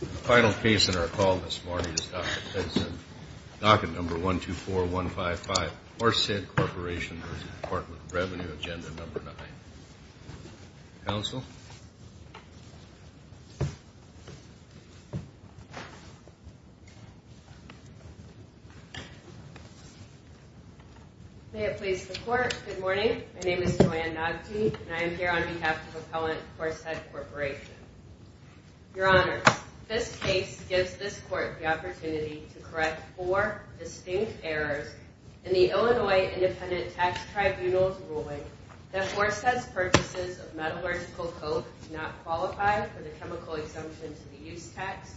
The final case in our call this morning is Docket 124155, Forsyth Corporation v. The Department of Revenue, Agenda 9. Counsel. May it please the Court, good morning. My name is Joanne Noggety and I am here on behalf of Appellant Forsyth Corporation. Your Honor, this case gives this Court the opportunity to correct four distinct errors in the Illinois Independent Tax Tribunal's ruling that Forsyth's purchases of metallurgical coke do not qualify for the chemical exemption to the use tax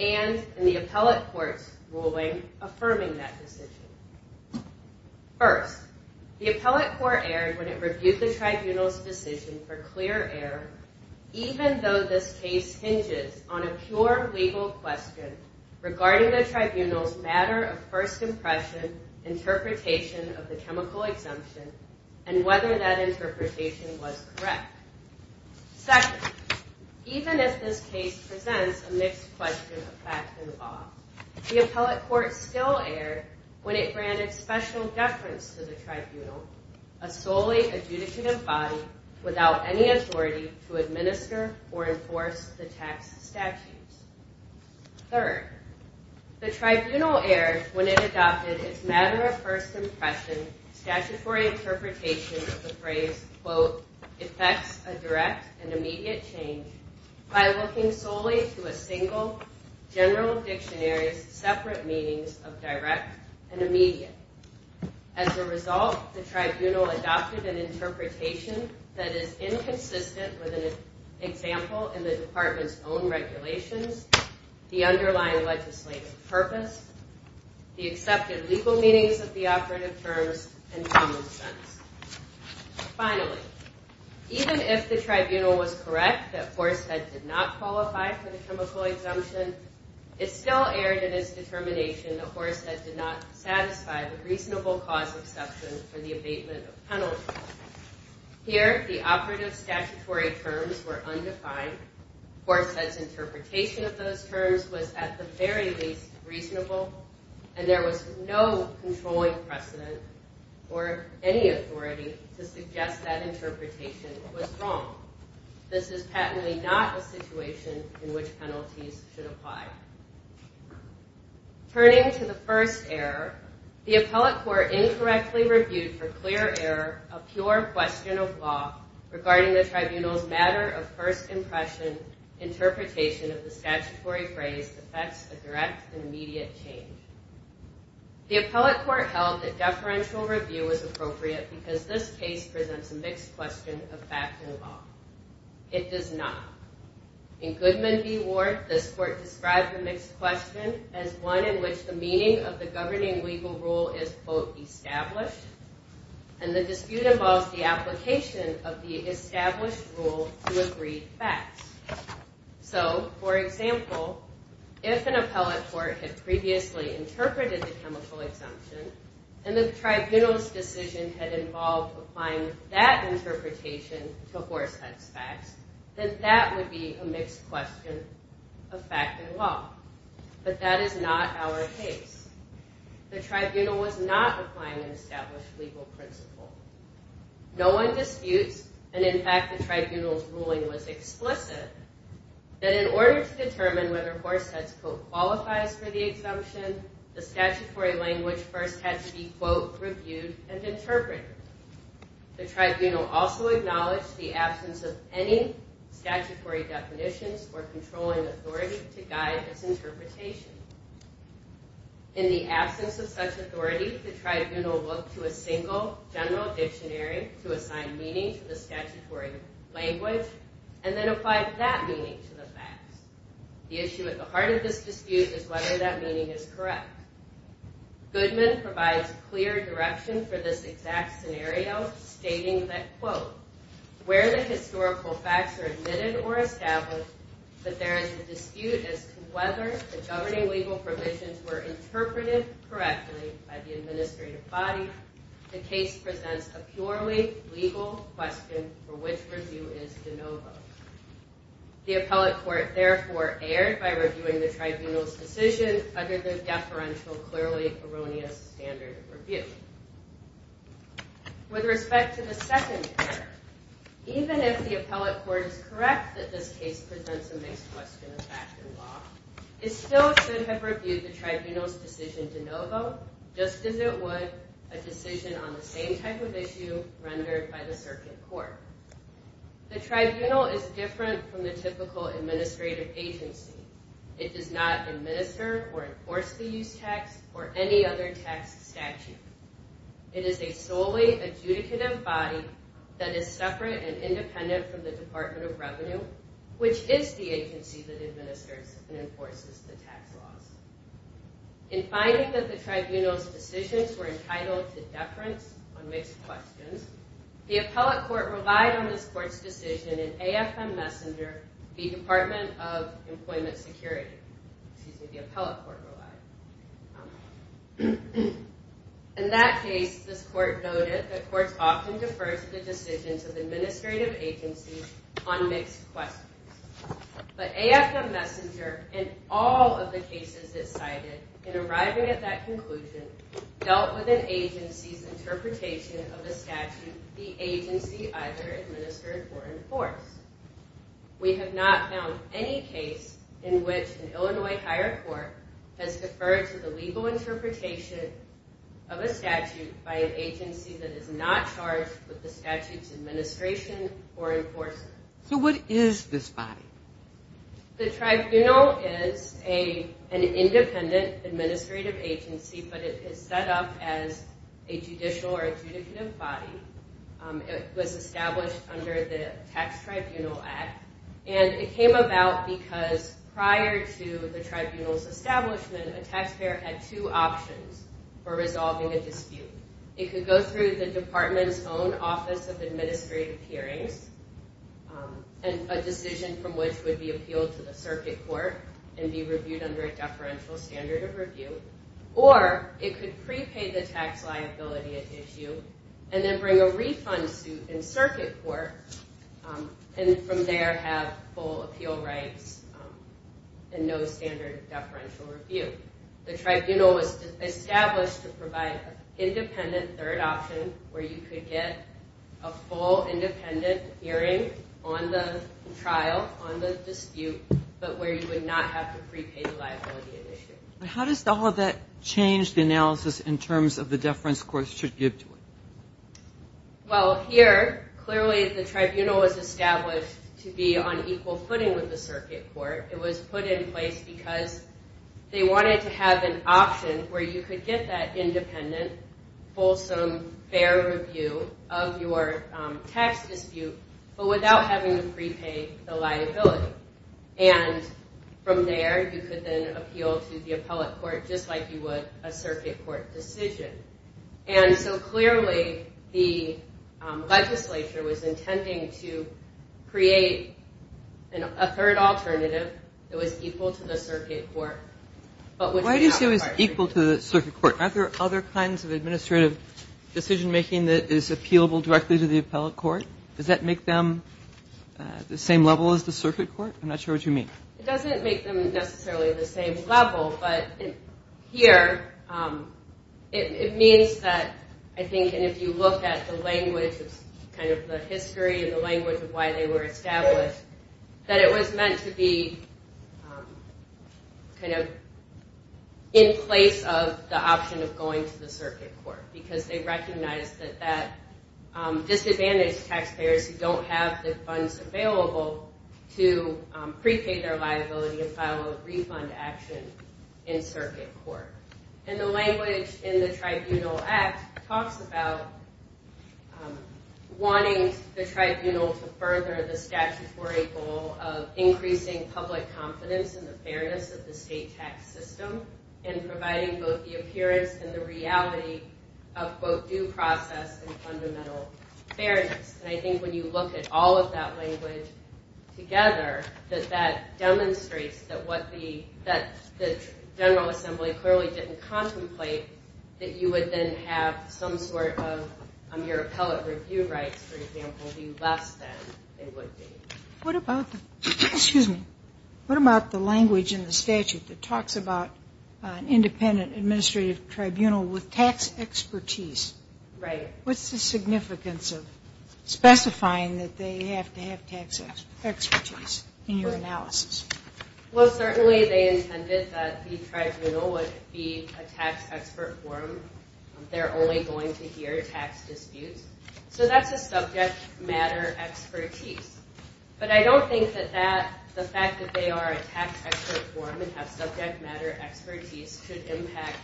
and in the Appellate Court's ruling affirming that decision. First, the Appellate Court erred when it reviewed the Tribunal's decision for clear error even though this case hinges on a pure legal question regarding the Tribunal's matter of first impression interpretation of the chemical exemption and whether that interpretation was correct. Second, even as this case presents a mixed question of fact and law, the Appellate Court still erred when it granted special deference to the Tribunal, a solely adjudicative body without any authority to administer or enforce the tax statutes. Third, the Tribunal erred when it adopted its matter of first impression statutory interpretation of the phrase, quote, effects a direct and immediate change by looking solely to a single general dictionary's separate meanings of direct and immediate. As a result, the Tribunal adopted an interpretation that is inconsistent with an example in the Department's own regulations, the underlying legislative purpose, the accepted legal meanings of the operative terms, and common sense. Finally, even if the Tribunal was correct that Horseth did not qualify for the chemical exemption, it still erred in its determination that Horseth did not satisfy the reasonable cause exception for the abatement of penalty. Here, the operative statutory terms were undefined. Horseth's interpretation of those terms was at the very least reasonable, and there was no controlling precedent or any authority to suggest that interpretation was wrong. This is patently not a situation in which penalties should apply. Turning to the first error, the Appellate Court incorrectly reviewed for clear error a pure question of law regarding the Tribunal's matter of first impression interpretation of the statutory phrase, effects a direct and immediate change. The Appellate Court held that deferential review was appropriate because this case presents a mixed question of fact and law. It does not. In Goodman v. Ward, this Court described the mixed question as one in which the meaning of the governing legal rule is, quote, established, and the dispute involves the application of the established rule to agreed facts. So, for example, if an Appellate Court had previously interpreted the chemical exemption, and the Tribunal's decision had involved applying that interpretation to Horseth's facts, then that would be a mixed question of fact and law. But that is not our case. The Tribunal was not applying an established legal principle. No one disputes, and in fact the Tribunal's ruling was explicit, that in order to determine whether Horseth's quote qualifies for the exemption, the statutory language first had to be, quote, reviewed and interpreted. The Tribunal also acknowledged the absence of any statutory definitions or controlling authority to guide its interpretation. In the absence of such authority, the Tribunal looked to a single general dictionary to assign meaning to the statutory language, and then applied that meaning to the facts. The issue at the heart of this dispute is whether that meaning is correct. Goodman provides clear direction for this exact scenario, stating that, quote, where the historical facts are admitted or established, that there is a dispute as to whether the governing legal provisions were interpreted correctly by the administrative body. The case presents a purely legal question for which review is de novo. The appellate court therefore erred by reviewing the Tribunal's decision under the deferential, clearly erroneous standard of review. With respect to the second error, even if the appellate court is correct that this case presents a mixed question of fact and law, it still should have reviewed the Tribunal's decision de novo, just as it would a decision on the same type of issue rendered by the circuit court. The Tribunal is different from the typical administrative agency. It does not administer or enforce the use tax or any other tax statute. It is a solely adjudicative body that is separate and independent from the Department of Revenue, which is the agency that administers and enforces the tax laws. In finding that the Tribunal's decisions were entitled to deference on mixed questions, the appellate court relied on this court's decision in AFM Messenger v. Department of Employment Security. In that case, this court noted that courts often defer to the decisions of administrative agencies on mixed questions. But AFM Messenger, in all of the cases it cited, in arriving at that conclusion, dealt with an agency's interpretation of a statute the agency either administered or enforced. We have not found any case in which an Illinois higher court has deferred to the legal interpretation of a statute by an agency that is not charged with the statute's administration or enforcement. So what is this body? The Tribunal is an independent administrative agency, but it is set up as a judicial or adjudicative body. It was established under the Tax Tribunal Act, and it came about because prior to the Tribunal's establishment, a taxpayer had two options for resolving a dispute. It could go through the Department's own Office of Administrative Hearings, a decision from which would be appealed to the circuit court and be reviewed under a deferential standard of review. Or it could prepay the tax liability at issue and then bring a refund suit in circuit court, and from there have full appeal rights and no standard deferential review. The Tribunal was established to provide an independent third option where you could get a full independent hearing on the trial, on the dispute, but where you would not have to prepay the liability at issue. How does all of that change the analysis in terms of the deference courts should give to it? Well, here, clearly the Tribunal was established to be on equal footing with the circuit court. It was put in place because they wanted to have an option where you could get that independent, fulsome, fair review of your tax dispute, but without having to prepay the liability. And from there, you could then appeal to the appellate court just like you would a circuit court decision. And so clearly, the legislature was intending to create a third alternative that was equal to the circuit court. Why do you say it was equal to the circuit court? Aren't there other kinds of administrative decision making that is appealable directly to the appellate court? Does that make them the same level as the circuit court? I'm not sure what you mean. It doesn't make them necessarily the same level, but here, it means that, I think, and if you look at the language of kind of the history and the language of why they were established, that it was meant to be kind of in place of the option of going to the circuit court, because they recognized that that disadvantaged taxpayers who don't have the funds available to prepay their liability and file a refund action in circuit court. And the language in the Tribunal Act talks about wanting the tribunal to further the statutory goal of increasing public confidence in the fairness of the state tax system and providing both the appearance and the reality of both due process and fundamental fairness. And I think when you look at all of that language together, that that demonstrates that what the General Assembly clearly didn't contemplate, that you would then have some sort of your appellate review rights, for example, be less than they would be. What about the language in the statute that talks about an independent administrative tribunal with tax expertise? What's the significance of specifying that they have to have tax expertise in your analysis? Well, certainly they intended that the tribunal would be a tax expert forum. They're only going to hear tax disputes. So that's a subject matter expertise. But I don't think that the fact that they are a tax expert forum and have subject matter expertise could impact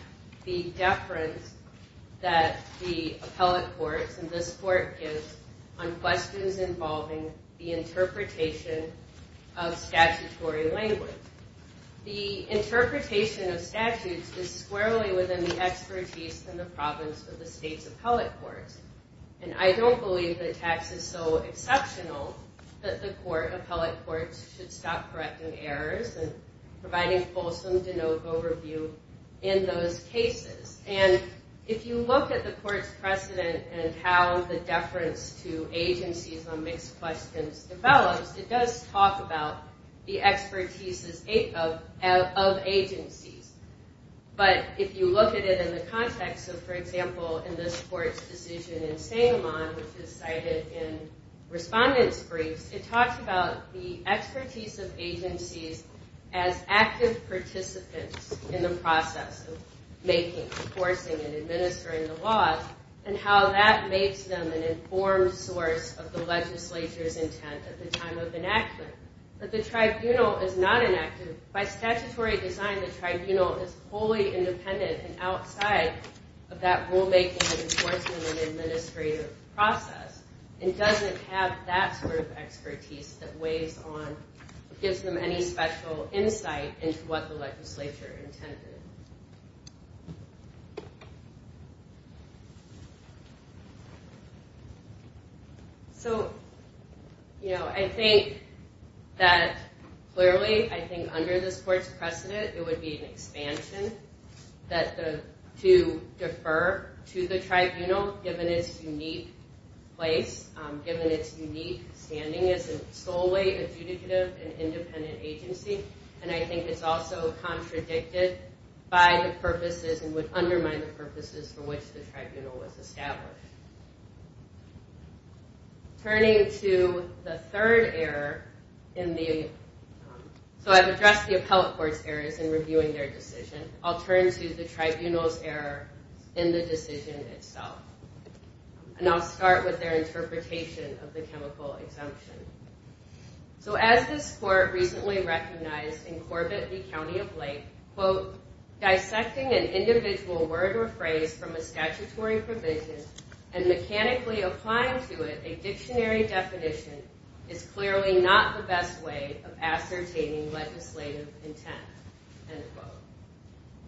the deference that the appellate courts and this court gives on questions involving the interpretation of statutory language. The interpretation of statutes is squarely within the expertise in the province of the state's appellate courts. And I don't believe that tax is so exceptional that the court, appellate courts, should stop correcting errors and providing fulsome, denote overview in those cases. And if you look at the court's precedent and how the deference to agencies on mixed questions develops, it does talk about the expertise of agencies. But if you look at it in the context of, for example, in this court's decision in St. Amand, which is cited in respondent's briefs, it talks about the expertise of agencies as active participants in the process of making, enforcing, and administering the laws, and how that makes them an informed source of the legislature's intent at the time of enactment. But the tribunal is not inactive. By statutory design, the tribunal is wholly independent and outside of that rulemaking and enforcement and administrative process and doesn't have that sort of expertise that weighs on, gives them any special insight into what the legislature intended. So, you know, I think that clearly, I think under this court's precedent, it would be an expansion to defer to the tribunal given its unique place, given its unique standing as solely a judicative and independent agency. And I think it's also contradicted by the purposes and would undermine the purposes for which the tribunal was established. Turning to the third error in the, so I've addressed the appellate court's errors in reviewing their decision. I'll turn to the tribunal's error in the decision itself. And I'll start with their interpretation of the chemical exemption. So as this court recently recognized in Corbett v. County of Lake, quote, dissecting an individual word or phrase from a statutory provision and mechanically applying to it a dictionary definition is clearly not the best way of ascertaining legislative intent, end quote.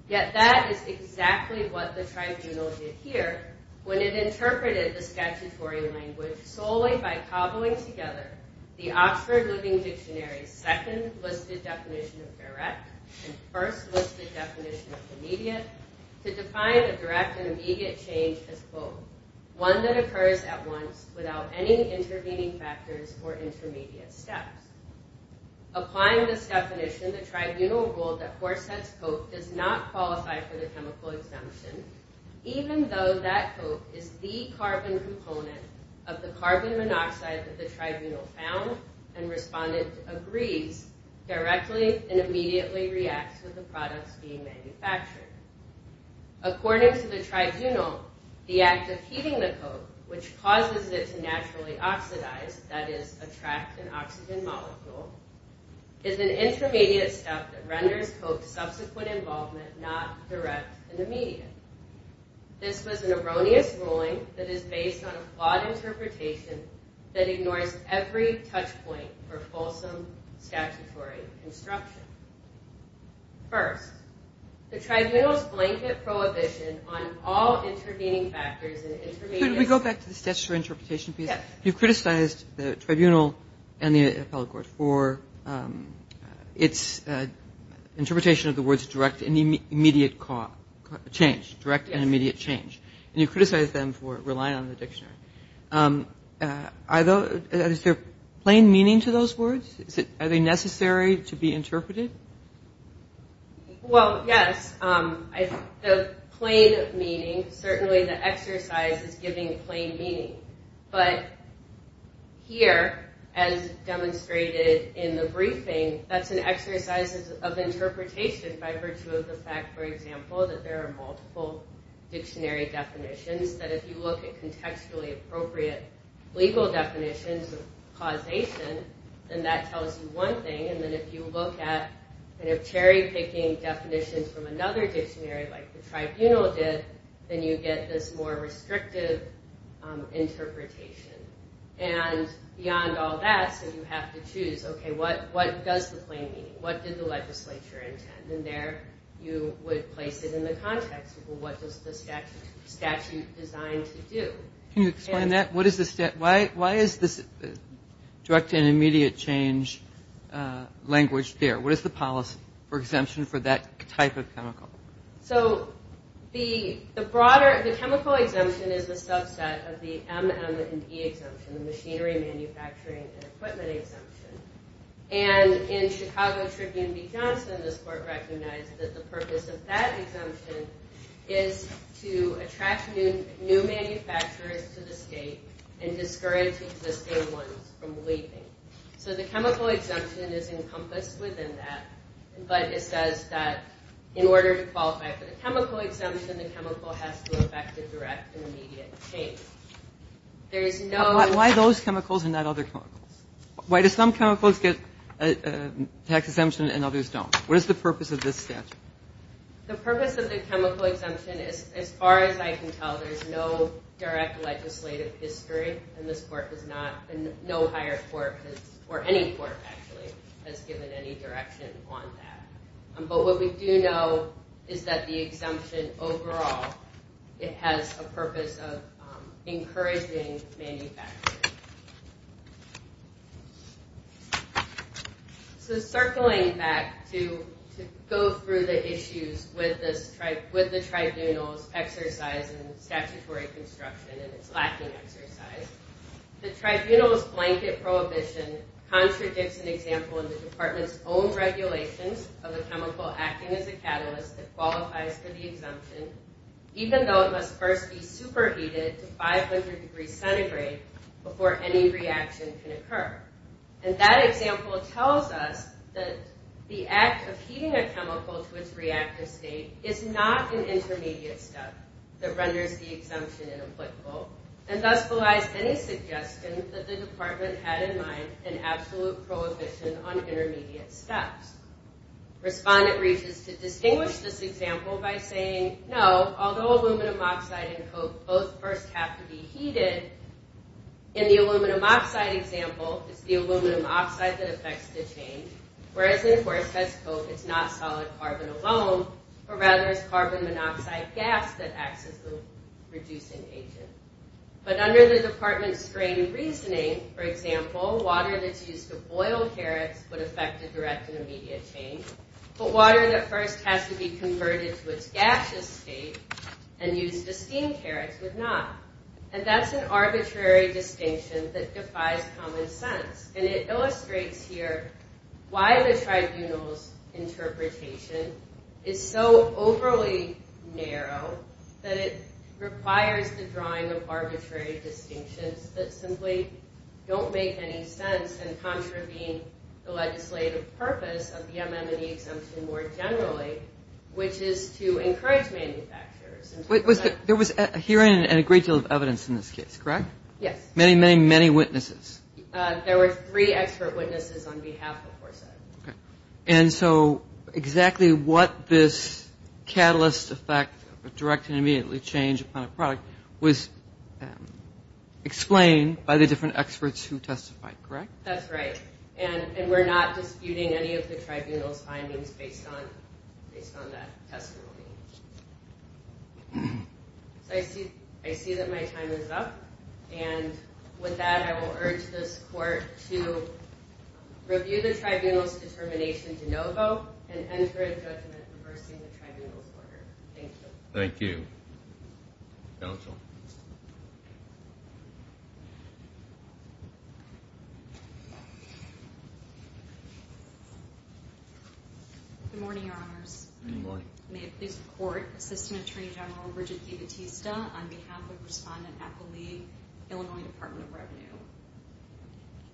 Yet that is exactly what the tribunal did here when it interpreted the statutory language solely by cobbling together the Oxford Living Dictionary's second listed definition of direct and first listed definition of immediate to define a direct and immediate change as, quote, one that occurs at once without any intervening factors or intermediate steps. Applying this definition, the tribunal ruled that Forsett's coke does not qualify for the chemical exemption even though that coke is the carbon component of the carbon monoxide that the tribunal found and responded agrees directly and immediately reacts with the products being manufactured. According to the tribunal, the act of heating the coke, which causes it to naturally oxidize, that is attract an oxygen molecule, is an intermediate step that renders coke's subsequent involvement not direct and immediate. This was an erroneous ruling that is based on a flawed interpretation that ignores every touch point for fulsome statutory instruction. First, the tribunal's blanket prohibition on all intervening factors and intermediate steps. Could we go back to the statutory interpretation, please? Yes. You've criticized the tribunal and the appellate court for its interpretation of the words direct and immediate change, and you've criticized them for relying on the dictionary. Is there plain meaning to those words? Are they necessary to be interpreted? Well, yes. The plain meaning, certainly the exercise is giving plain meaning, but here, as demonstrated in the briefing, that's an exercise of interpretation by virtue of the fact, for example, that there are multiple dictionary definitions, that if you look at contextually appropriate legal definitions of causation, then that tells you one thing, and then if you look at cherry-picking definitions from another dictionary, like the tribunal did, then you get this more restrictive interpretation. And beyond all that, you have to choose, okay, what does the plain meaning, what did the legislature intend? And there you would place it in the context of, well, what does the statute design to do? Can you explain that? Why is this direct and immediate change language there? What is the policy for exemption for that type of chemical? So the broader, the chemical exemption is the subset of the M, M, and E exemption, the machinery, manufacturing, and equipment exemption. And in Chicago Tribune v. Johnson, this court recognized that the purpose of that exemption is to attract new manufacturers to the state and discourage existing ones from leaving. So the chemical exemption is encompassed within that, but it says that in order to qualify for the chemical exemption, the chemical has to affect a direct and immediate change. There is no – Why those chemicals and not other chemicals? Why do some chemicals get a tax exemption and others don't? What is the purpose of this statute? The purpose of the chemical exemption, as far as I can tell, there's no direct legislative history, and this court does not – no higher court or any court, actually, has given any direction on that. But what we do know is that the exemption overall, it has a purpose of encouraging manufacturers. So circling back to go through the issues with the tribunal's exercise in statutory construction and its lacking exercise, the tribunal's blanket prohibition contradicts an example in the department's own regulations of a chemical acting as a catalyst that qualifies for the exemption, even though it must first be superheated to 500 degrees centigrade before any reaction can occur. And that example tells us that the act of heating a chemical to its reactive state is not an intermediate step that renders the exemption inapplicable, and thus belies any suggestion that the department had in mind an absolute prohibition on intermediate steps. Respondent reaches to distinguish this example by saying, no, although aluminum oxide and coke both first have to be heated, in the aluminum oxide example, it's the aluminum oxide that affects the change, whereas in forced-as-coke, it's not solid carbon alone, but rather it's carbon monoxide gas that acts as the reducing agent. But under the department's screen reasoning, for example, water that's used to boil carrots would affect a direct and immediate change, but water that first has to be converted to its gaseous state and used to steam carrots would not. This is an arbitrary distinction that defies common sense, and it illustrates here why the tribunal's interpretation is so overly narrow that it requires the drawing of arbitrary distinctions that simply don't make any sense and contravene the legislative purpose of the MM&E exemption more generally, which is to encourage manufacturers. There was a hearing and a great deal of evidence in this case, correct? Yes. Many, many, many witnesses. There were three expert witnesses on behalf of FORSEC. And so exactly what this catalyst effect, a direct and immediate change upon a product, was explained by the different experts who testified, correct? That's right. And we're not disputing any of the tribunal's findings based on that testimony. So I see that my time is up. And with that, I will urge this court to review the tribunal's determination to no vote and enter a judgment reversing the tribunal's order. Thank you. Thank you. Counsel. Good morning, Your Honors. Good morning. May it please the court, Assistant Attorney General Bridgette DiBattista on behalf of Respondent Appleby, Illinois Department of Revenue.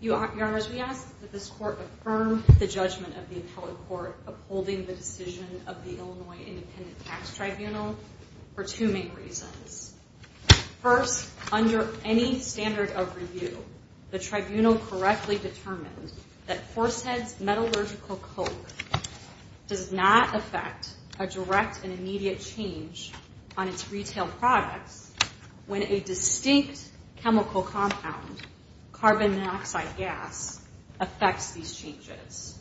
Your Honors, we ask that this court affirm the judgment of the appellate court upholding the decision of the Illinois Independent Tax Tribunal for two main reasons. First, under any standard of review, the tribunal correctly determined that Horsehead's metallurgical coke does not affect a direct and immediate change on its retail products when a distinct chemical compound, carbon monoxide gas, affects these changes.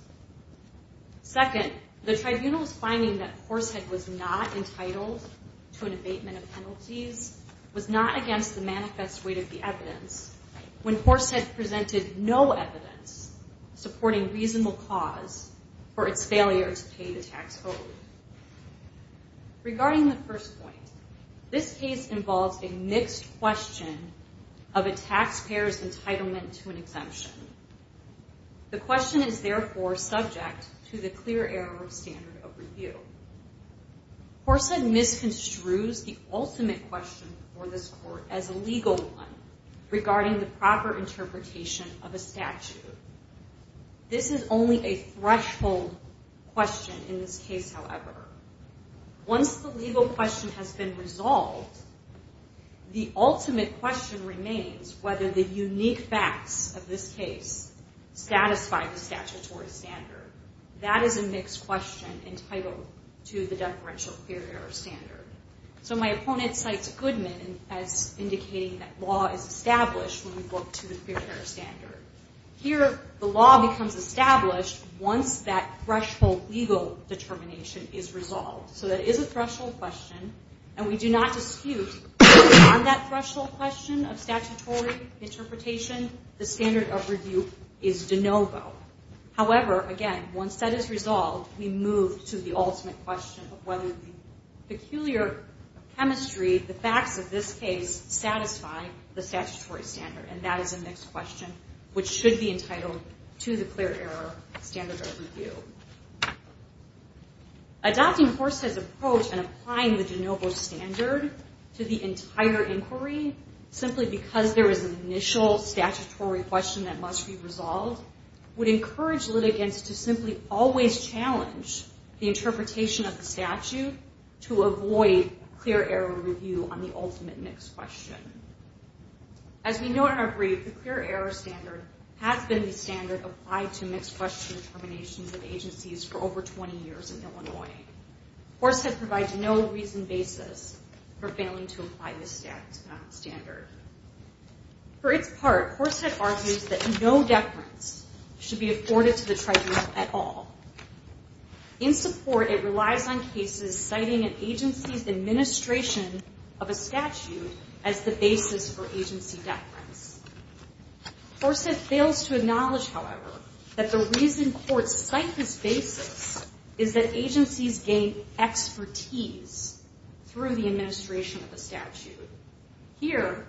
Second, the tribunal's finding that Horsehead was not entitled to an abatement of penalties was not against the manifest weight of the evidence when Horsehead presented no evidence supporting reasonable cause for its failure to pay the tax owed. Regarding the first point, this case involves a mixed question of a taxpayer's entitlement to an exemption. The question is therefore subject to the clear error of standard of review. Horsehead misconstrues the ultimate question for this court as a legal one regarding the proper interpretation of a statute. This is only a threshold question in this case, however. Once the legal question has been resolved, the ultimate question remains whether the unique facts of this case satisfy the statutory standard. That is a mixed question entitled to the deferential clear error standard. So my opponent cites Goodman as indicating that law is established when we look to the clear error standard. Here, the law becomes established once that threshold legal determination is resolved. So that is a threshold question, and we do not dispute that on that threshold question of statutory interpretation, the standard of review is de novo. However, again, once that is resolved, we move to the ultimate question of whether the peculiar chemistry, the facts of this case, satisfy the statutory standard, and that is a mixed question which should be entitled to the clear error standard of review. Adopting Horsehead's approach and applying the de novo standard to the entire inquiry simply because there is an initial statutory question that must be resolved would encourage litigants to simply always challenge the interpretation of the statute to avoid clear error review on the ultimate mixed question. As we know in our brief, the clear error standard has been the standard applied to mixed question determinations of agencies for over 20 years in Illinois. Horsehead provides no reason basis for failing to apply this standard. For its part, Horsehead argues that no deference should be afforded to the tribunal at all. In support, it relies on cases citing an agency's administration of a statute as the basis for agency deference. Horsehead fails to acknowledge, however, that the reason courts cite this basis is that agencies gain expertise through the administration of a statute. Here...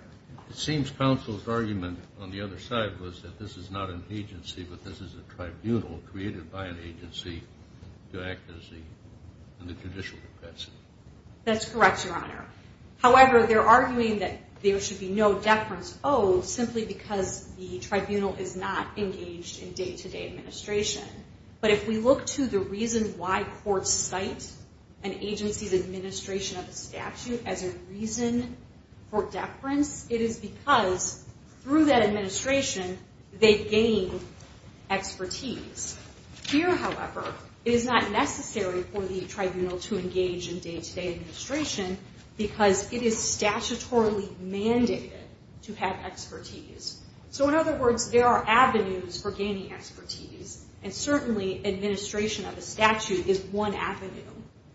It seems counsel's argument on the other side was that this is not an agency, but this is a tribunal created by an agency to act as the... in the judicial capacity. That's correct, Your Honor. However, they're arguing that there should be no deference owed simply because the tribunal is not engaged in day-to-day administration. But if we look to the reason why courts cite an agency's administration of a statute as a reason for deference, it is because through that administration, they gain expertise. Here, however, it is not necessary for the tribunal to engage in day-to-day administration because it is statutorily mandated to have expertise. So in other words, there are avenues for gaining expertise, and certainly administration of a statute is one avenue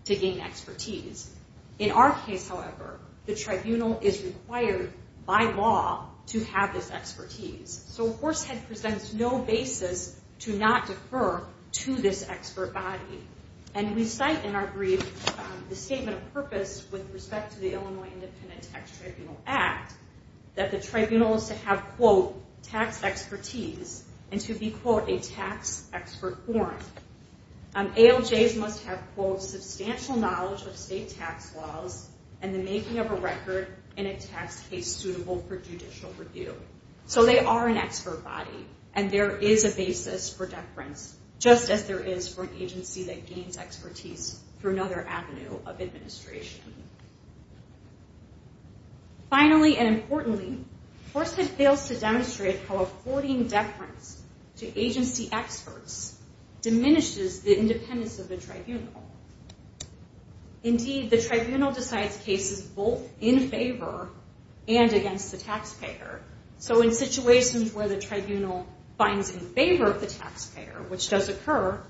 to gain expertise. In our case, however, the tribunal is required by law to have this expertise. So Horsehead presents no basis to not defer to this expert body. And we cite in our brief the statement of purpose with respect to the Illinois Independent Tax Tribunal Act that the tribunal is to have, quote, tax expertise, and to be, quote, a tax expert forum. ALJs must have, quote, substantial knowledge of state tax laws and the making of a record in a tax case suitable for judicial review. So they are an expert body, and there is a basis for deference, just as there is for an agency that gains expertise through another avenue of administration. Finally and importantly, Horsehead fails to demonstrate how affording deference to agency experts diminishes the independence of the tribunal. Indeed, the tribunal decides cases both in favor and against the taxpayer. So in situations where the tribunal finds in favor of the taxpayer, which does occur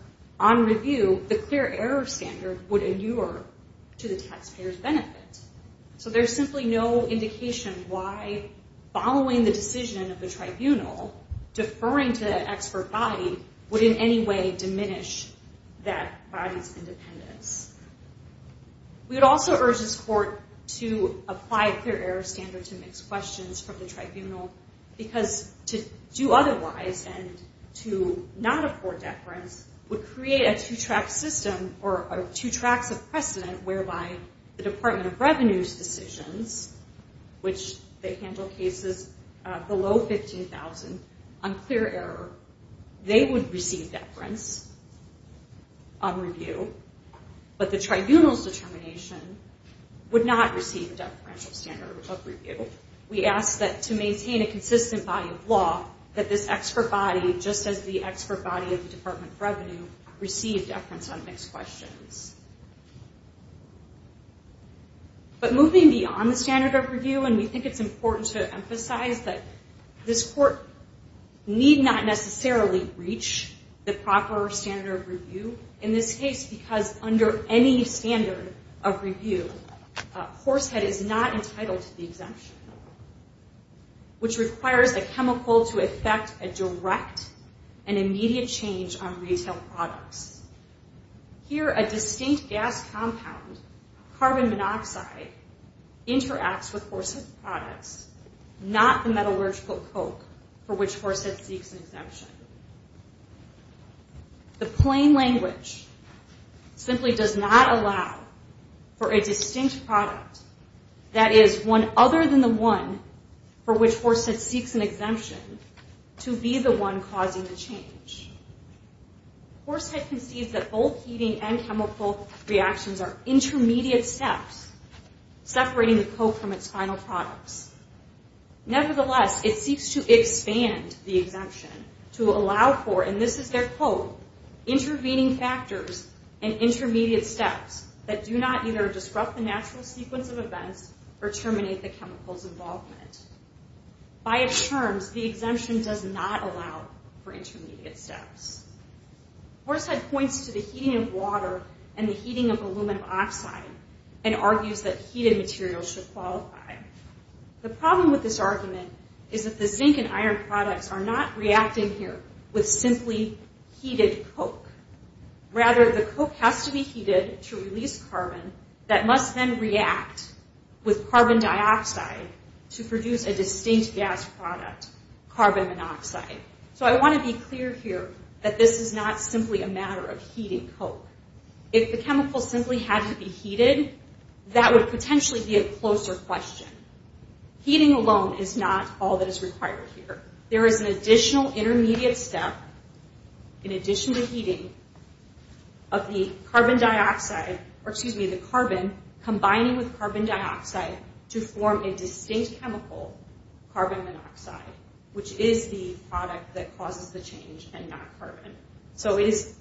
on review, the clear error standard would endure to the taxpayer's benefit. So there's simply no indication why following the decision of the tribunal, deferring to that expert body would in any way diminish that body's independence. We would also urge this court to apply a clear error standard to mixed questions from the tribunal, because to do otherwise and to not afford deference would create a two-track system or two tracks of precedent whereby the Department of Revenue's decisions, which they handle cases below 15,000 on clear error, they would receive deference on review, but the tribunal's determination would not receive a deferential standard of review. We ask that to maintain a consistent body of law, that this expert body, just as the expert body of the Department of Revenue, receive deference on mixed questions. But moving beyond the standard of review, and we think it's important to emphasize that this court need not necessarily reach the proper standard of review in this case, because under any standard of review, Horsehead is not entitled to the exemption, which requires a chemical to affect a direct and immediate change on retail products. Here, a distinct gas compound, carbon monoxide, interacts with Horsehead's products, not the metallurgical coke for which Horsehead seeks an exemption. The plain language simply does not allow for a distinct product that is one other than the one for which Horsehead seeks an exemption to be the one causing the change. Horsehead concedes that both heating and chemical reactions are intermediate steps separating the coke from its final products. Nevertheless, it seeks to expand the exemption to allow for, and this is their quote, intervening factors and intermediate steps that do not either disrupt the natural sequence of events or terminate the chemical's involvement. By its terms, the exemption does not allow for intermediate steps. Horsehead points to the heating of water and the heating of aluminum oxide and argues that heated materials should qualify. The problem with this argument is that the zinc and iron products are not reacting here with simply heated coke. Rather, the coke has to be heated to release carbon that must then react with carbon dioxide to produce a distinct gas product, carbon monoxide. So I want to be clear here that this is not simply a matter of heating coke. If the chemical simply had to be heated, that would potentially be a closer question. Heating alone is not all that is required here. There is an additional intermediate step in addition to heating of the carbon dioxide, or excuse me, the carbon, combining with carbon dioxide to form a distinct chemical, carbon monoxide, which is the product that causes the change and not carbon. So it is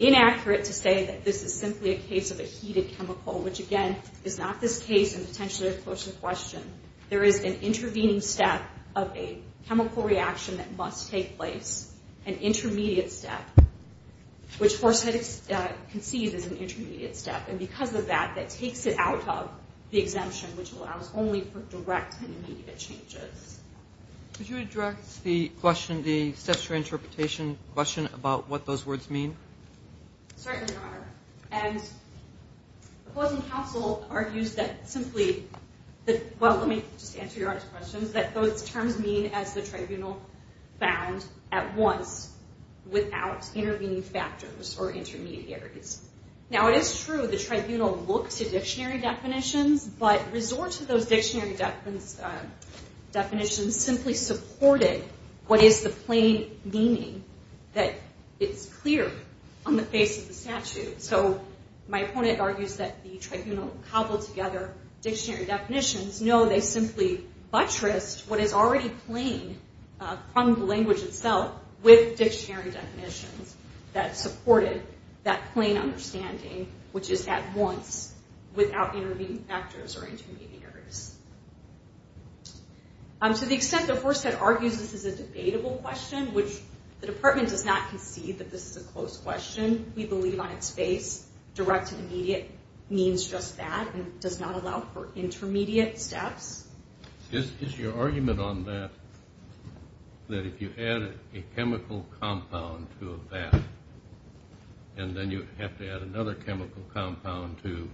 inaccurate to say that this is simply a case of a heated chemical, which again is not this case and potentially a closer question. There is an intervening step of a chemical reaction that must take place, an intermediate step, which Horsehead concedes is an intermediate step. And because of that, that takes it out of the exemption, which allows only for direct and immediate changes. Could you address the question, the steps for interpretation question, about what those words mean? Certainly, Your Honor. And opposing counsel argues that simply, well, let me just answer Your Honor's question, that those terms mean as the tribunal found at once without intervening factors or intermediaries. Now it is true the tribunal looked to dictionary definitions, but resort to those dictionary definitions simply supported what is the plain meaning that is clear on the face of the statute. So my opponent argues that the tribunal cobbled together dictionary definitions. No, they simply buttressed what is already plain from the language itself with dictionary definitions that supported that plain understanding, which is at once without intervening factors or intermediaries. To the extent that Horsehead argues this is a debatable question, which the department does not concede that this is a closed question. We believe on its face direct and immediate means just that and does not allow for intermediate steps. Is your argument on that, that if you add a chemical compound to a VAT and then you have to add another chemical compound to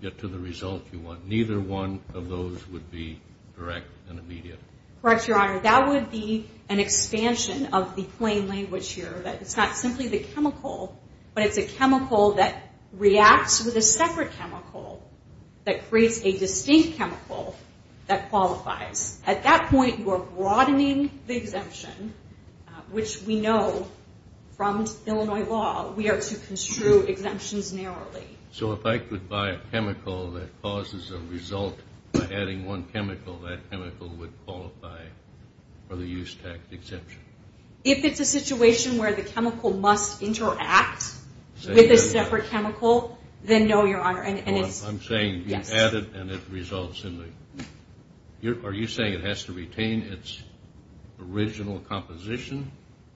get to the result you want, neither one of those would be direct and immediate? Correct, Your Honor. That would be an expansion of the plain language here, that it's not simply the chemical, but it's a chemical that reacts with a separate chemical that creates a distinct chemical that qualifies. At that point you are broadening the exemption, which we know from Illinois law we are to construe exemptions narrowly. So if I could buy a chemical that causes a result by adding one chemical, that chemical would qualify for the use tax exemption? If it's a situation where the chemical must interact with a separate chemical, then no, Your Honor. I'm saying you add it and it results in the... Are you saying it has to retain its original composition?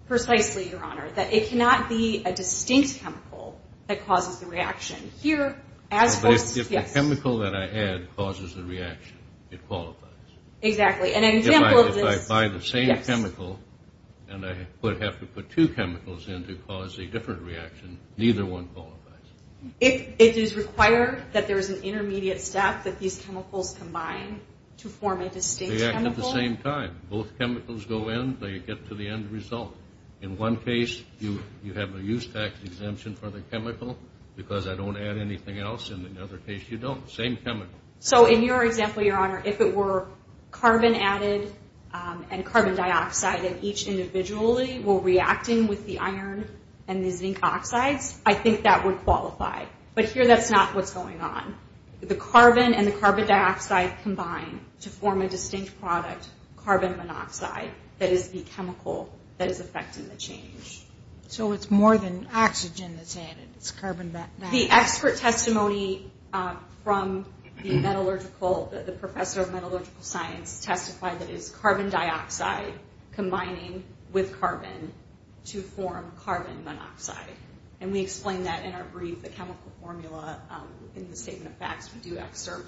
Precisely, Your Honor. That it cannot be a distinct chemical that causes the reaction. If the chemical that I add causes the reaction, it qualifies. Exactly, and an example of this... If I buy the same chemical and I have to put two chemicals in to cause a different reaction, neither one qualifies. It is required that there is an intermediate step that these chemicals combine to form a distinct chemical? They act at the same time. Both chemicals go in, they get to the end result. In one case, you have a use tax exemption for the chemical because I don't add anything else. In another case, you don't. Same chemical. So in your example, Your Honor, if it were carbon added and carbon dioxide and each individually were reacting with the iron and the zinc oxides, I think that would qualify. But here that's not what's going on. The carbon and the carbon dioxide combine to form a distinct product, carbon monoxide, that is the chemical that is affecting the change. So it's more than oxygen that's added. It's carbon dioxide. The expert testimony from the professor of metallurgical science testified that it is carbon dioxide combining with carbon to form carbon monoxide. And we explained that in our brief, the chemical formula, in the statement of facts. We do exert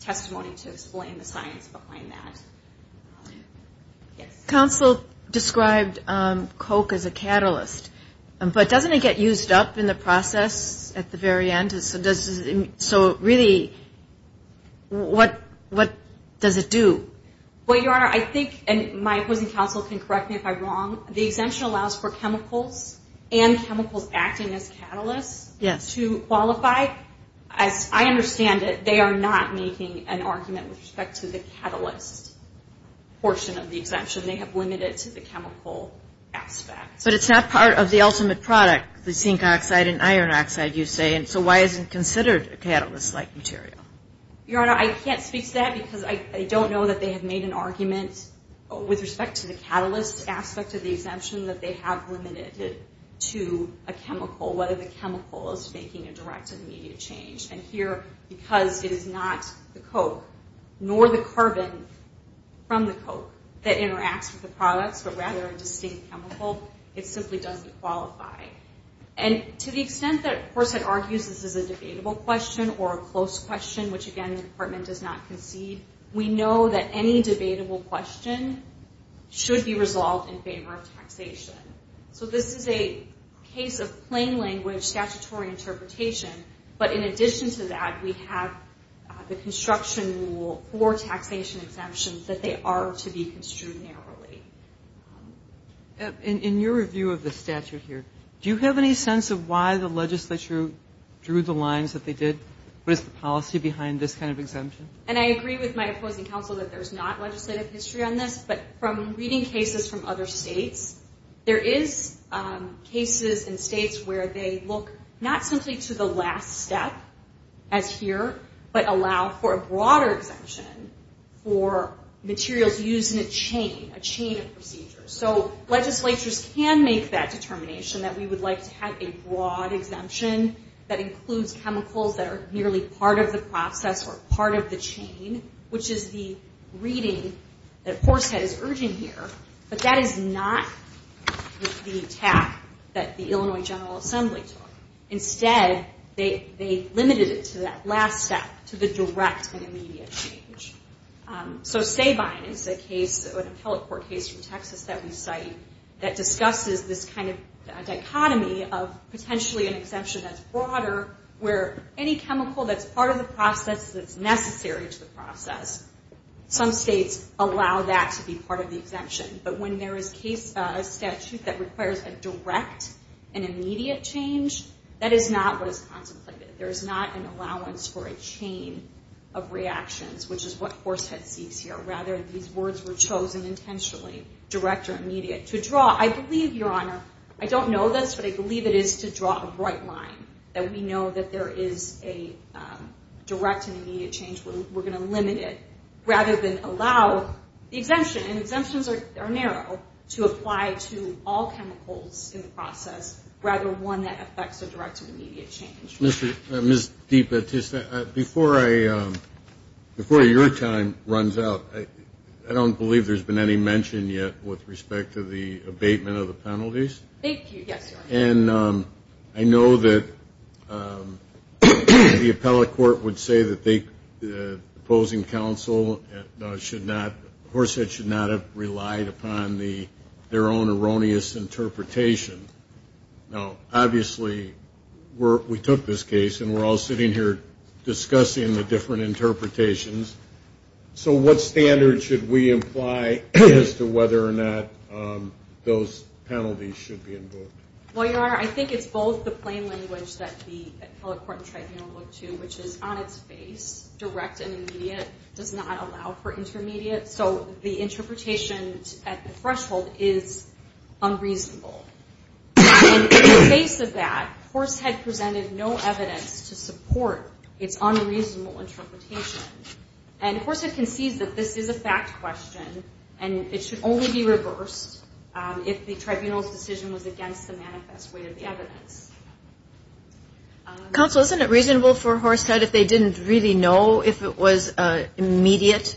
testimony to explain the science behind that. Counsel described coke as a catalyst. But doesn't it get used up in the process at the very end? So really, what does it do? Well, Your Honor, I think, and my opposing counsel can correct me if I'm wrong, the exemption allows for chemicals and chemicals acting as catalysts As I understand it, they are not making an argument with respect to the catalyst portion of the exemption. They have limited it to the chemical aspect. But it's not part of the ultimate product, the zinc oxide and iron oxide, you say, and so why isn't it considered a catalyst-like material? Your Honor, I can't speak to that because I don't know that they have made an argument with respect to the catalyst aspect of the exemption that they have limited it to a chemical, whether the chemical is making a direct or immediate change. And here, because it is not the coke nor the carbon from the coke that interacts with the products, but rather a distinct chemical, it simply doesn't qualify. And to the extent that, of course, it argues this is a debatable question or a close question, which, again, the Department does not concede, we know that any debatable question should be resolved in favor of taxation. So this is a case of plain language statutory interpretation, but in addition to that, we have the construction rule for taxation exemptions that they are to be construed narrowly. In your review of the statute here, do you have any sense of why the legislature drew the lines that they did? What is the policy behind this kind of exemption? And I agree with my opposing counsel that there is not legislative history on this, but from reading cases from other states, there is cases in states where they look not simply to the last step, as here, but allow for a broader exemption for materials used in a chain, a chain of procedures. So legislatures can make that determination that we would like to have a broad exemption that includes chemicals that are merely part of the process or part of the chain, which is the reading that Porsehead is urging here, but that is not the attack that the Illinois General Assembly took. Instead, they limited it to that last step, to the direct and immediate change. So Sabine is a case, an appellate court case from Texas that we cite that discusses this kind of dichotomy of potentially an exemption that's broader where any chemical that's part of the process that's necessary to the process, some states allow that to be part of the exemption. But when there is a statute that requires a direct and immediate change, that is not what is contemplated. It's not a balance for a chain of reactions, which is what Porsehead seeks here. Rather, these words were chosen intentionally, direct or immediate. To draw, I believe, Your Honor, I don't know this, but I believe it is to draw a bright line that we know that there is a direct and immediate change. We're going to limit it rather than allow the exemption. And exemptions are narrow to apply to all chemicals in the process, rather one that affects a direct and immediate change. Ms. DiPatista, before your time runs out, I don't believe there's been any mention yet with respect to the abatement of the penalties. Thank you. Yes, Your Honor. And I know that the appellate court would say that the opposing counsel should not, Porsehead should not have relied upon their own erroneous interpretation. Now, obviously, we took this case and we're all sitting here discussing the different interpretations. So what standard should we imply as to whether or not those penalties should be invoked? Well, Your Honor, I think it's both the plain language that the appellate court and tribunal look to, direct and immediate does not allow for intermediate. So the interpretation at the threshold is unreasonable. And in the face of that, Horsehead presented no evidence to support its unreasonable interpretation. And Horsehead concedes that this is a fact question and it should only be reversed if the tribunal's decision was against the manifest weight of the evidence. Counsel, isn't it reasonable for Horsehead if they didn't really know if it was an immediate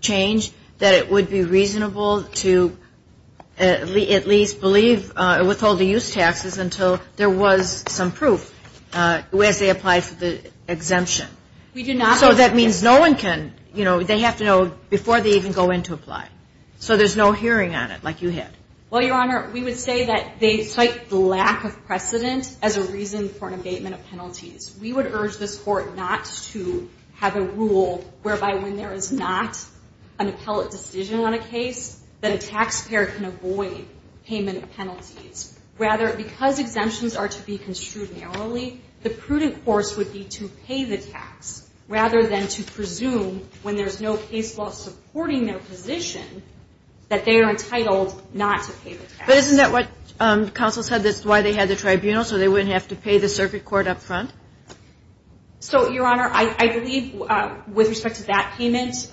change that it would be reasonable to at least believe or withhold the use taxes until there was some proof as they applied for the exemption? So that means no one can, you know, they have to know before they even go in to apply. So there's no hearing on it like you had. Well, Your Honor, we would say that they cite the lack of precedent as a reason for an abatement of penalties. We would urge this court not to have a rule whereby when there is not an appellate decision on a case, that a taxpayer can avoid payment of penalties. Rather, because exemptions are to be construed narrowly, the prudent course would be to pay the tax rather than to presume when there's no case law supporting their position that they are entitled not to pay the tax. But isn't that what counsel said that's why they had the tribunal so they wouldn't have to pay the circuit court up front? So, Your Honor, I believe with respect to that payment,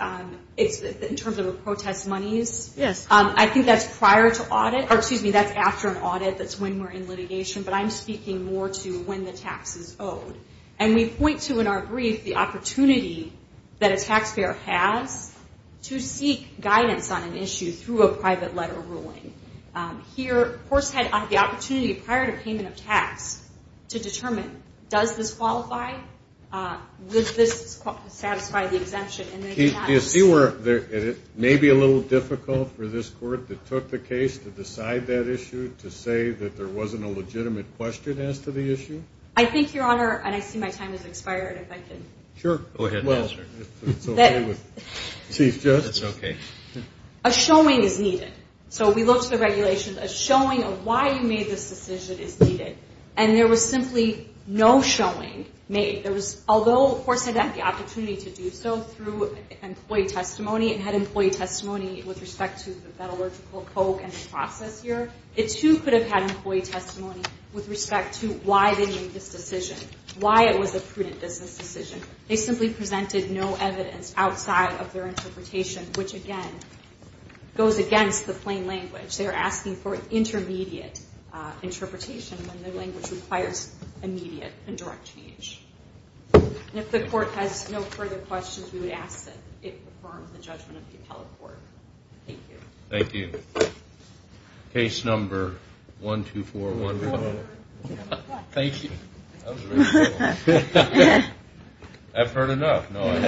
it's in terms of a protest monies. Yes. I think that's prior to audit, or excuse me, that's after an audit. That's when we're in litigation. But I'm speaking more to when the tax is owed. And we point to in our brief the opportunity that a taxpayer has to seek guidance on an issue through a private letter ruling. Here, courts had the opportunity prior to payment of tax to determine does this qualify? Does this satisfy the exemption? Do you see where it may be a little difficult for this court that took the case to decide that issue to say that there wasn't a legitimate question as to the issue? I think, Your Honor, and I see my time has expired if I can. Sure. Go ahead and answer. That's okay. A showing is needed. So we look to the regulations. A showing of why you made this decision is needed. And there was simply no showing made. Although, of course, the court had the opportunity to do so through employee testimony and had employee testimony with respect to the metallurgical coke and the process here, it, too, could have had employee testimony with respect to why they made this decision, why it was a prudent business decision. They simply presented no evidence outside of their interpretation, which, again, goes against the plain language. They're asking for intermediate interpretation when their language requires immediate and direct change. If the court has no further questions, we would ask that it confirm the judgment of the appellate court. Thank you. Thank you. Case number 12415. Thank you. That was very helpful. I've heard enough. I'm not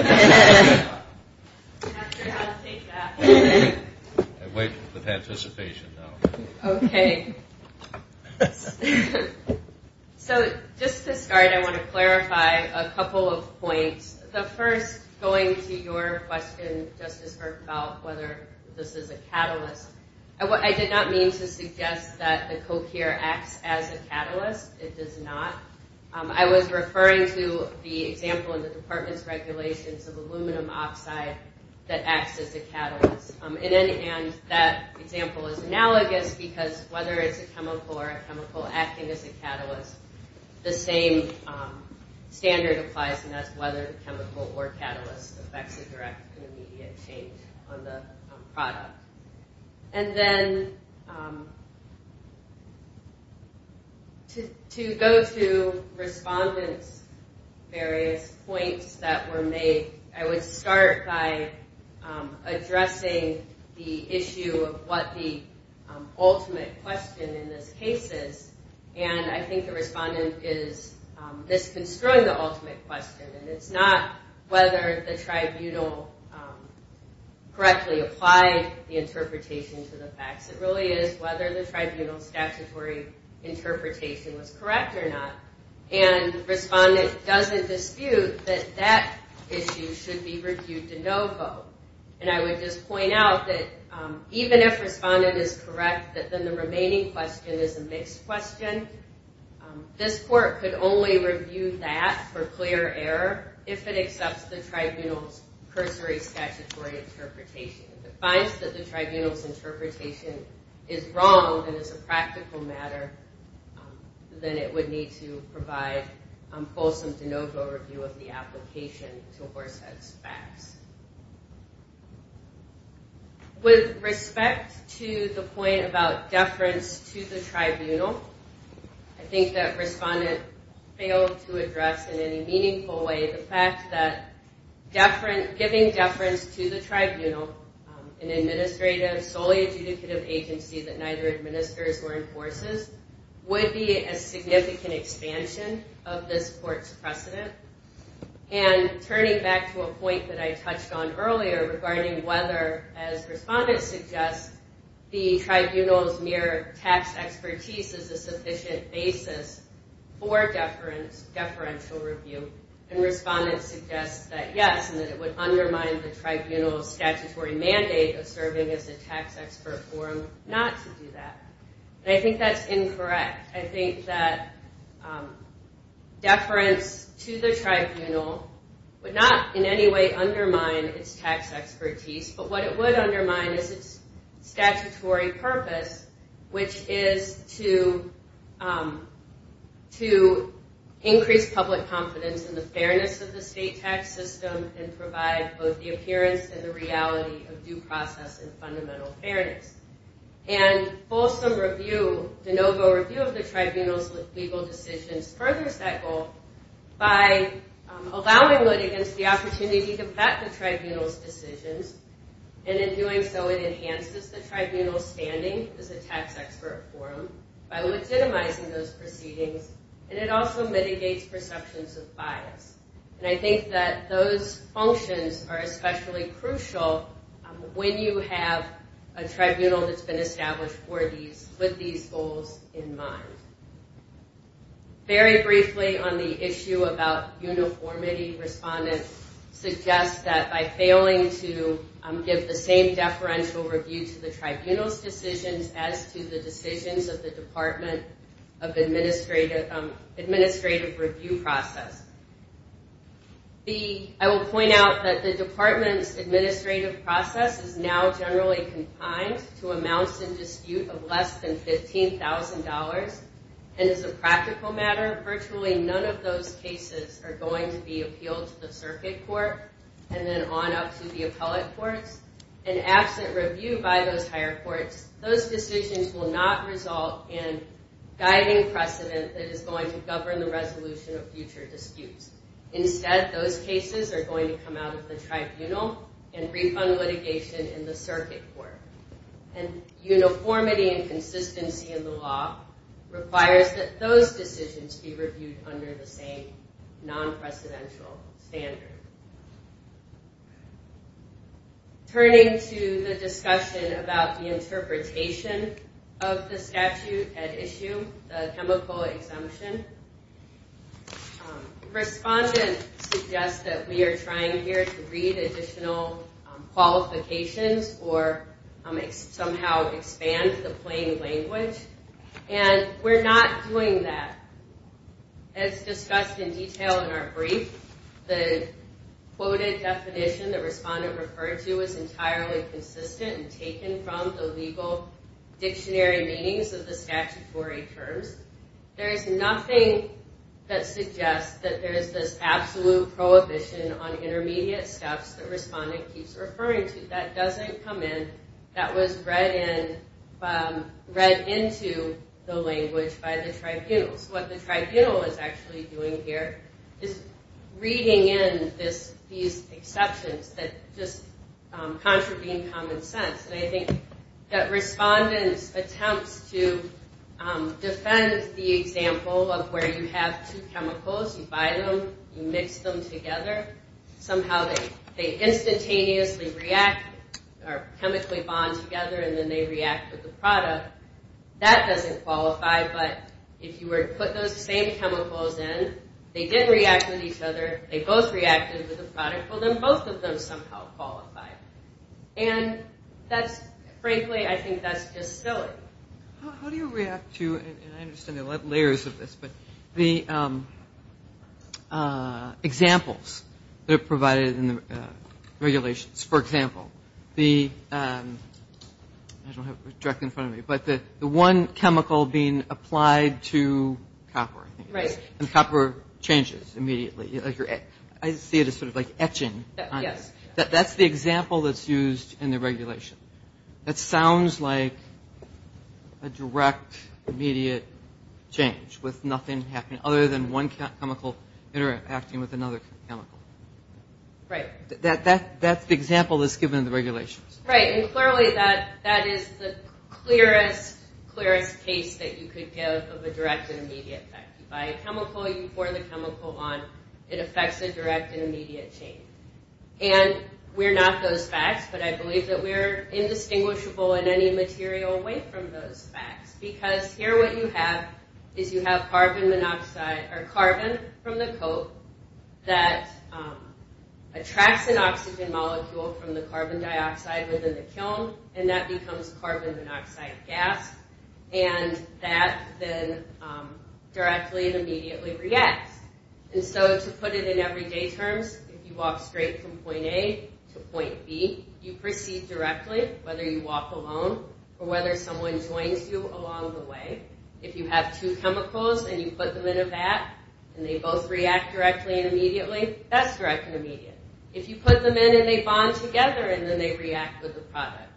sure how to take that. I wait with anticipation now. Okay. So just to start, I want to clarify a couple of points. The first, going to your question, Justice Bergfeld, whether this is a catalyst. I did not mean to suggest that the coke here acts as a catalyst. It does not. I was referring to the example in the department's regulations of aluminum oxide that acts as a catalyst. In any end, that example is analogous because whether it's a chemical or a chemical acting as a catalyst, the standard applies, and that's whether the chemical or catalyst affects a direct and immediate change on the product. And then, to go through respondents' various points that were made, I would start by addressing the issue of what the ultimate question in this case is, and I think the respondent is misconstruing the ultimate question, and it's not whether the tribunal correctly applied the interpretation to the facts. It really is whether the tribunal statutory interpretation was correct or not, and the respondent doesn't dispute that that issue should be reviewed de novo. And I would just point out that even if the respondent is correct, that then the remaining question is a mixed question. This court could only review that for clear error if it accepts the tribunal's cursory statutory interpretation. If it finds that the tribunal's interpretation is wrong and is a practical matter, then it would need to provide a fulsome de novo review of the application to horsehead facts. With respect to the point about deference to the tribunal, I think that respondent failed to address in any meaningful way the fact that giving deference to the tribunal, an administrative, solely adjudicative agency that neither administers or enforces, would be a significant expansion of this court's precedent, and turning back to a point that I touched on earlier where the tribunal's mere tax expertise is a sufficient basis for deferential review, and respondent suggests that yes, and that it would undermine the tribunal's statutory mandate of serving as a tax expert forum not to do that. And I think that's incorrect. I think that deference to the tribunal would not in any way undermine its tax expertise, but what it would undermine is its statutory purpose, which is to increase public confidence in the fairness of the state tax system and provide both the appearance and the reality of due process and fundamental fairness. And Folsom Review, de novo review of the tribunal's legal decisions, furthers that goal by allowing it against the opportunity to vet the tribunal's decisions and in doing so it enhances the tribunal's standing as a tax expert forum by legitimizing those proceedings and it also mitigates perceptions of bias. And I think that those functions are especially crucial when you have a tribunal that's been established with these goals in mind. Very briefly on the issue about uniformity, respondent suggests that by failing to give the same deferential review to the tribunal's decisions as to the decisions of the department of administrative review process. I will point out that the department's administrative process is now generally confined to amounts in dispute of less than $15,000 and as a practical matter, virtually none of those cases are going to be appealed to the circuit court and then on up to the appellate courts and absent review by those higher courts, those decisions will not result in guiding precedent that is going to govern the resolution of future disputes. Instead, those cases are going to come out of the tribunal and refund litigation in the circuit court. And uniformity and consistency in the law requires that those decisions be reviewed under the same non-presidential standard. Turning to the discussion about the interpretation of the statute at issue, the chemical exemption, respondents suggest that we are trying here to read additional qualifications or somehow expand the plain language and we're not doing that. As discussed in detail in our brief, the quoted definition that respondent referred to is entirely consistent and taken from the legal dictionary meanings of the statutory terms. There is nothing that suggests that there is this absolute prohibition on intermediate steps that respondent keeps referring to. That doesn't come in. That was read into the language by the tribunals. What the tribunal is actually doing here is reading in these exceptions that just contravene common sense. I think that respondents attempt to defend the example of where you have two chemicals, you buy them, you mix them together, somehow they instantaneously react or chemically bond together and then they react with the product. That doesn't qualify, but if you were to put those same chemicals in, they didn't react with each other, they both reacted with the product, well then both of them somehow qualify. Frankly, I think that's just silly. How do you react to, and I understand there are layers of this, but the examples that are provided in the regulations, for example, the one chemical being applied to copper, and copper changes immediately. I see it as etching. That's the example that's used in the regulation. That sounds like a direct, immediate change with nothing happening other than one chemical interacting with another chemical. That's the example that's given in the regulations. Right, and clearly that is the clearest case that you could give of a direct and immediate effect. You buy a chemical, you pour the chemical on, it affects a direct and immediate change. We're not those facts, but I believe that we're indistinguishable in any material away from those facts, because here what you have is you have carbon monoxide, or carbon from the coat that attracts an oxygen molecule from the carbon dioxide within the kiln, and that becomes carbon monoxide gas, and that then directly and immediately reacts, and so to put it in everyday terms, if you walk straight from point A to point B, you proceed directly, whether you walk alone or whether someone joins you along the way. If you have two chemicals and you put them in a vat and they both react directly and immediately, that's direct and immediate. If you put them in and they bond together and then they react with the product.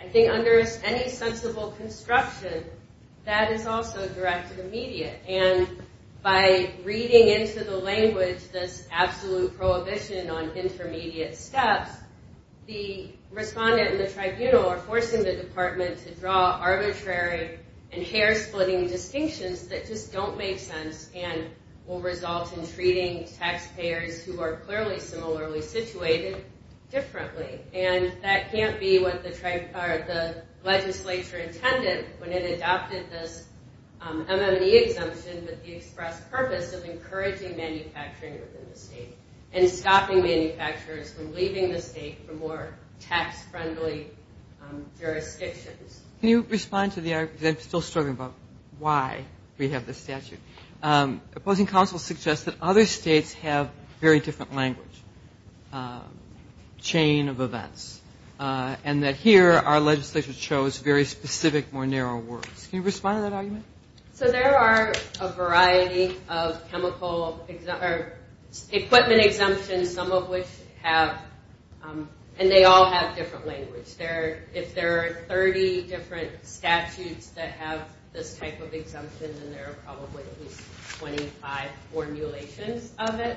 I think under any sensible construction, that is also direct and immediate, and by reading into the language this absolute prohibition on intermediate steps, the respondent and the tribunal are forcing the department to draw arbitrary and hair-splitting distinctions that just don't make sense and will result in treating taxpayers who are clearly similarly situated differently, and that can't be what the legislature intended when it adopted this MME exemption with the express purpose of encouraging manufacturing within the state and stopping manufacturers from leaving the state for more tax-friendly jurisdictions. Can you respond to the argument, I'm still struggling about why we have this statute. Opposing counsel suggests that other states have very different language, chain of events, and that here our legislature chose very specific, more narrow words. Can you respond to that argument? So there are a variety of chemical equipment exemptions, some of which have, and they all have different language. If there are 30 different statutes that have this type of exemption, then there are probably at least 25 formulations of it.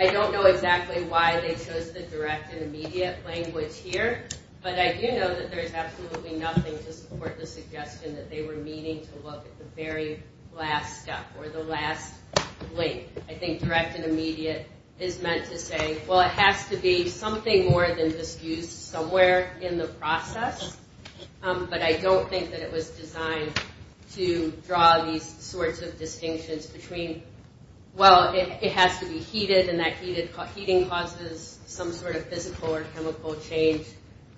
I don't know exactly why they chose the direct and immediate language here, but I do know that there is absolutely nothing to support the suggestion that they were meaning to look at the very last step, or the last link. I think direct and immediate is meant to say, well it has to be something more than just used somewhere in the process, but I don't think that it was designed to draw these sorts of distinctions between, well, it has to be heated and that heating causes some sort of physical or chemical change,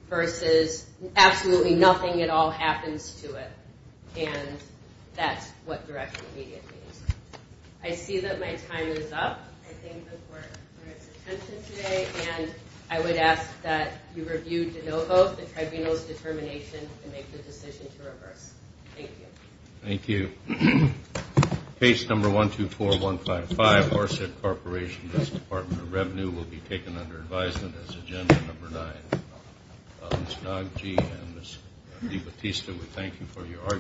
versus absolutely nothing at all happens to it, and that's what direct and immediate means. I see that my time is up. I thank the court for its attention today, and I would ask that you review de novo, the tribunal's determination, and make the decision to reverse. Thank you. Thank you. Case number 124155, Orsett Corporation, Justice Department of Revenue, will be taken under advisement as agenda number nine. Ms. Nogge and Ms. DiBattista, we thank you for your argument.